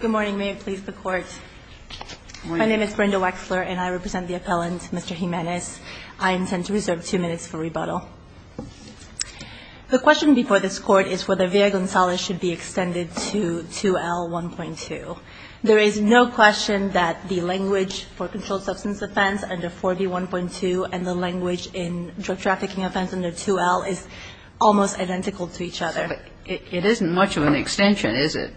Good morning. May it please the Court. My name is Brenda Wexler and I represent the appellant, Mr. Jimenez. I intend to reserve two minutes for rebuttal. The question before this Court is whether Villa-Gonzalez should be extended to 2L1.2. There is no question that the language for controlled substance offense under 4B1.2 and the language in drug trafficking offense under 2L is almost identical to each other. But it isn't much of an extension, is it?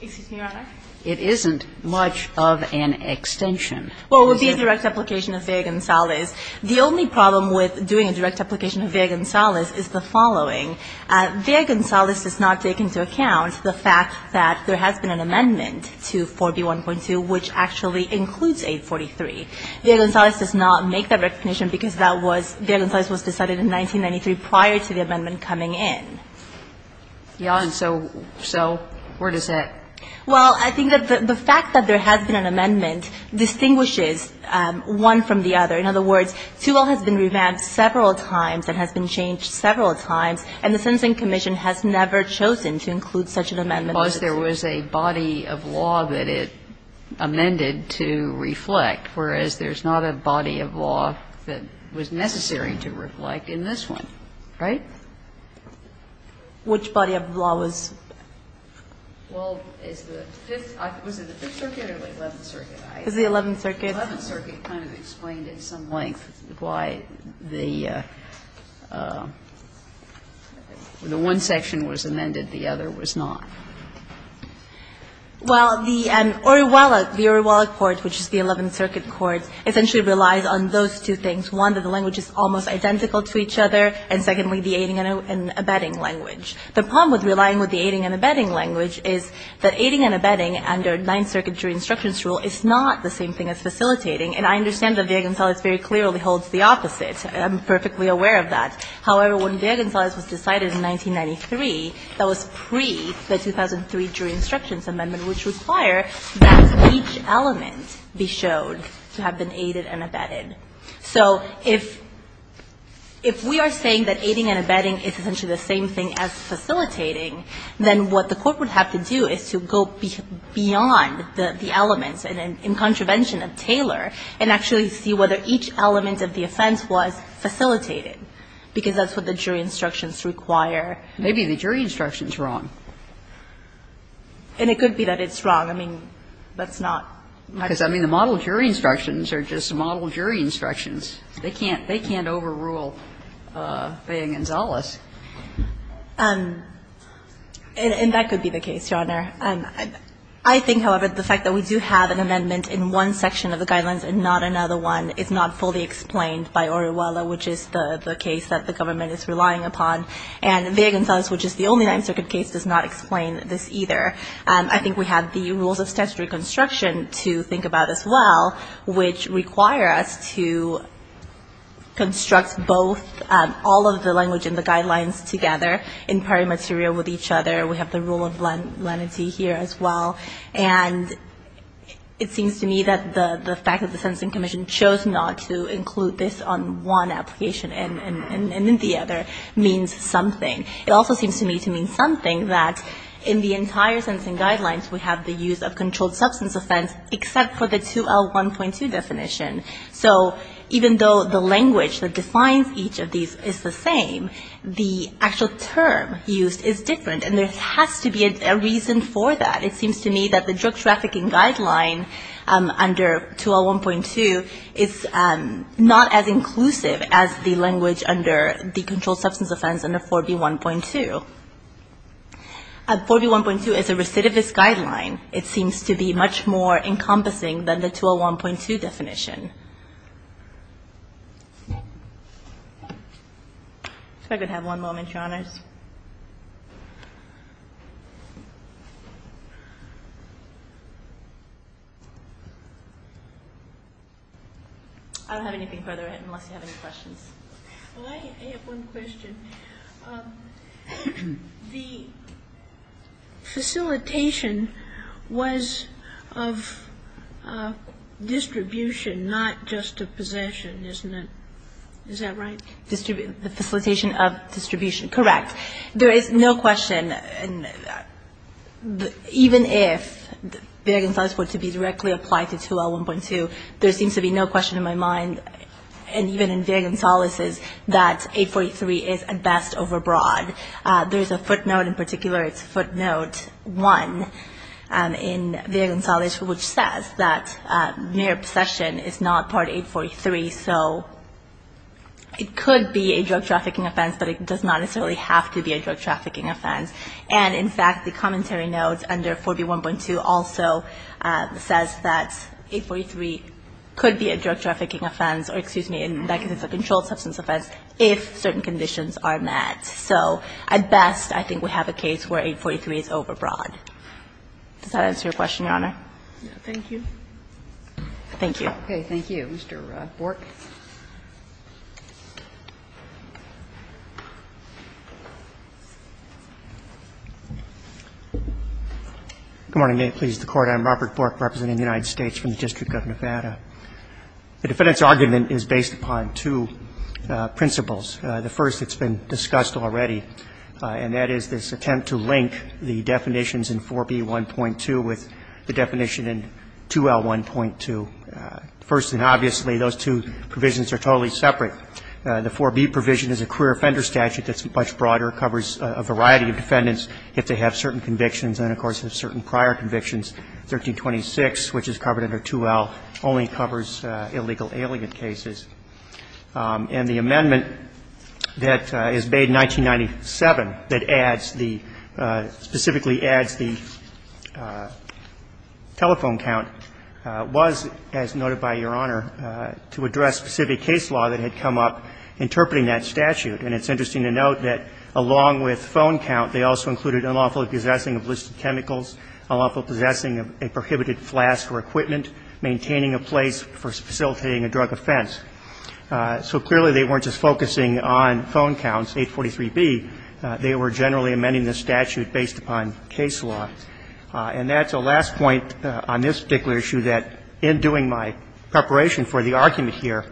Excuse me, Your Honor. It isn't much of an extension. Well, it would be a direct application of Villa-Gonzalez. The only problem with doing a direct application of Villa-Gonzalez is the following. Villa-Gonzalez does not take into account the fact that there has been an amendment to 4B1.2 which actually includes 843. Villa-Gonzalez does not make that recognition because Villa-Gonzalez was decided in 1993 prior to the amendment coming in. Yeah. And so where does that? Well, I think that the fact that there has been an amendment distinguishes one from the other. In other words, 2L has been revamped several times and has been changed several times, and the Sentencing Commission has never chosen to include such an amendment. Because there was a body of law that it amended to reflect, whereas there's not a body of law that was necessary to reflect in this one, right? Which body of law was? Well, is the Fifth Circuit or the Eleventh Circuit? It's the Eleventh Circuit. The Eleventh Circuit kind of explained in some length why the one section was amended. The other was not. Well, the Orihuela, the Orihuela Court, which is the Eleventh Circuit Court, essentially relies on those two things. One, that the language is almost identical to each other, and secondly, the aiding and abetting language. The problem with relying with the aiding and abetting language is that aiding and abetting under Ninth Circuit jury instructions rule is not the same thing as facilitating. And I understand that Villa-Gonzalez very clearly holds the opposite. I'm perfectly aware of that. However, when Villa-Gonzalez was decided in 1993, that was pre the 2003 Jury Instructions Amendment, which require that each element be showed to have been aided and abetted. So if we are saying that aiding and abetting is essentially the same thing as facilitating, then what the Court would have to do is to go beyond the elements in contravention of Taylor and actually see whether each element of the offense was facilitated, because that's what the jury instructions require. Maybe the jury instruction is wrong. And it could be that it's wrong. I mean, that's not much. Because, I mean, the model jury instructions are just model jury instructions. They can't overrule Villa-Gonzalez. And that could be the case, Your Honor. I think, however, the fact that we do have an amendment in one section of the Guidelines and not another one is not fully explained by Orihuela, which is the case that the government is relying upon. And Villa-Gonzalez, which is the only Ninth Circuit case, does not explain this either. I think we have the rules of statutory construction to think about as well, which require us to construct both all of the language in the Guidelines together in prior material with each other. We have the rule of lenity here as well. And it seems to me that the fact that the Sentencing Commission chose not to include this on one application and in the other means something. It also seems to me to mean something that in the entire Sentencing Guidelines, we have the use of controlled substance offense except for the 2L1.2 definition. So even though the language that defines each of these is the same, the actual term used is different. And there has to be a reason for that. It seems to me that the drug trafficking guideline under 2L1.2 is not as inclusive as the language under the controlled substance offense under 4B1.2. 4B1.2 is a recidivist guideline. It seems to be much more encompassing than the 2L1.2 definition. If I could have one moment, Your Honors. I don't have anything further unless you have anything else. Well, I have one question. The facilitation was of distribution, not just of possession, isn't it? Is that right? The facilitation of distribution. Correct. There is no question. Even if variance was to be directly applied to 2L1.2, there seems to be no question in my mind. And even in Villa-Gonzalez's, that 843 is at best overbroad. There is a footnote in particular. It's footnote 1 in Villa-Gonzalez, which says that mere possession is not part 843. So it could be a drug trafficking offense, but it does not necessarily have to be a drug trafficking offense. And, in fact, the commentary notes under 4B1.2 also says that 843 could be a drug trafficking offense or, excuse me, that could be a controlled substance offense if certain conditions are met. So at best, I think we have a case where 843 is overbroad. Does that answer your question, Your Honor? Thank you. Thank you. Okay. Thank you. Mr. Bork. Good morning. May it please the Court. I'm Robert Bork representing the United States from the District of Nevada. The defendant's argument is based upon two principles. The first that's been discussed already, and that is this attempt to link the definitions in 4B1.2 with the definition in 2L1.2. First and obviously, those two provisions are totally separate. The 4B provision is a queer offender statute that's much broader, covers a variety of defendants if they have certain convictions and, of course, have certain prior convictions. 1326, which is covered under 2L, only covers illegal alien cases. And the amendment that is made in 1997 that adds the – specifically adds the telephone count was, as noted by Your Honor, to address specific case law that had come up interpreting that statute. And it's interesting to note that, along with phone count, they also included unlawful possessing of illicit chemicals, unlawful possessing of a prohibited flask or equipment, maintaining a place for facilitating a drug offense. So clearly, they weren't just focusing on phone counts, 843B. They were generally amending the statute based upon case law. And that's a last point on this particular issue, that in doing my preparation for the argument here,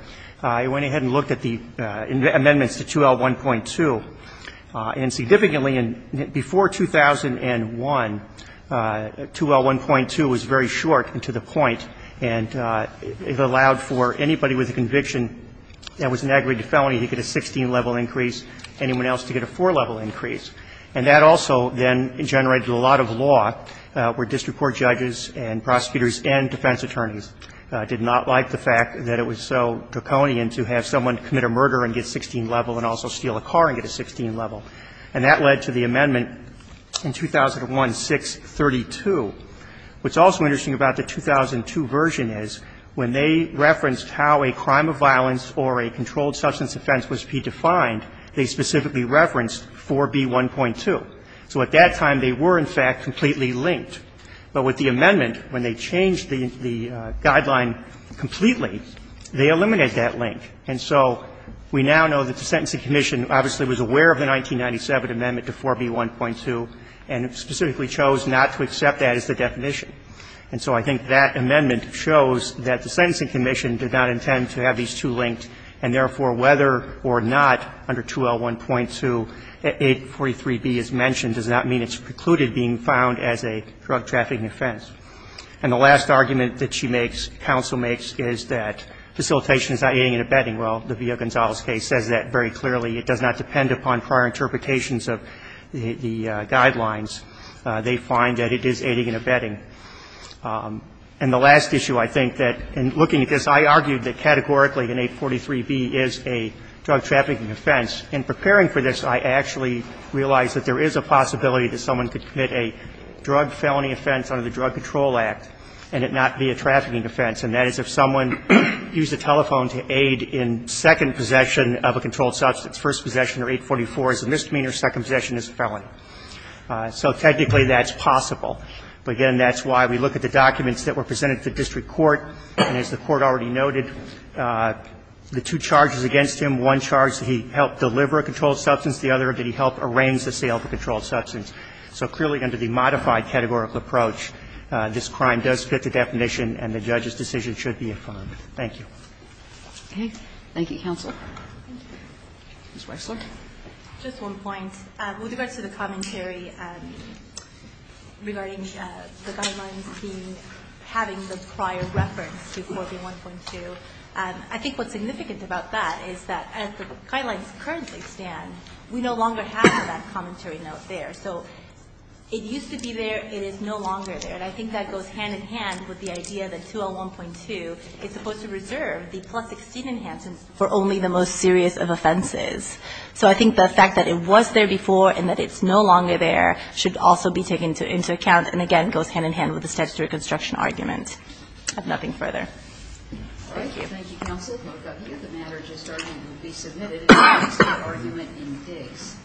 I went ahead and looked at the amendments to 2L1.2. And significantly, before 2001, 2L1.2 was very short and to the point. And it allowed for anybody with a conviction that was an aggregate felony to get a 16-level increase, anyone else to get a 4-level increase. And that also then generated a lot of law where district court judges and prosecutors and defense attorneys did not like the fact that it was so draconian to have someone commit a murder and get 16-level and also steal a car and get a 16-level. And that led to the amendment in 2001, 632. What's also interesting about the 2002 version is when they referenced how a crime of violence or a controlled substance offense was to be defined, they specifically referenced 4B1.2. So at that time, they were, in fact, completely linked. But with the amendment, when they changed the guideline completely, they eliminated that link. And so we now know that the Sentencing Commission obviously was aware of the 1997 amendment to 4B1.2 and specifically chose not to accept that as the definition. And so I think that amendment shows that the Sentencing Commission did not intend to have these two linked, and therefore, whether or not under 2L1.2, 843B is mentioned does not mean it's precluded being found as a drug trafficking offense. And the last argument that she makes, counsel makes, is that facilitation is not aiding and abetting. Well, the Villa-Gonzalez case says that very clearly. It does not depend upon prior interpretations of the guidelines. They find that it is aiding and abetting. And the last issue, I think, that in looking at this, I argued that categorically an 843B is a drug trafficking offense. In preparing for this, I actually realized that there is a possibility that someone could commit a drug felony offense under the Drug Control Act and it not be a trafficking offense, and that is if someone used a telephone to aid in second possession of a controlled substance, first possession or 844 is a misdemeanor, second possession is a felony. So technically, that's possible. But again, that's why we look at the documents that were presented to district court, and as the Court already noted, the two charges against him, one charge that he helped deliver a controlled substance, the other that he helped arrange the sale of the controlled substance. So clearly, under the modified categorical approach, this crime does fit the definition and the judge's decision should be affirmed. Thank you. Okay. Thank you, counsel. Ms. Weisler. Just one point. With regards to the commentary regarding the guidelines being having the prior reference to 4B1.2, I think what's significant about that is that as the guidelines currently stand, we no longer have that commentary note there. So it used to be there. It is no longer there. And I think that goes hand in hand with the idea that 201.2 is supposed to reserve the plus 16 enhancement for only the most serious of offenses. So I think the fact that it was there before and that it's no longer there should also be taken into account and, again, goes hand in hand with the statutory construction argument. I have nothing further. Thank you. Thank you, counsel. If I could get the matter just started and be submitted. It's the argument in Diggs.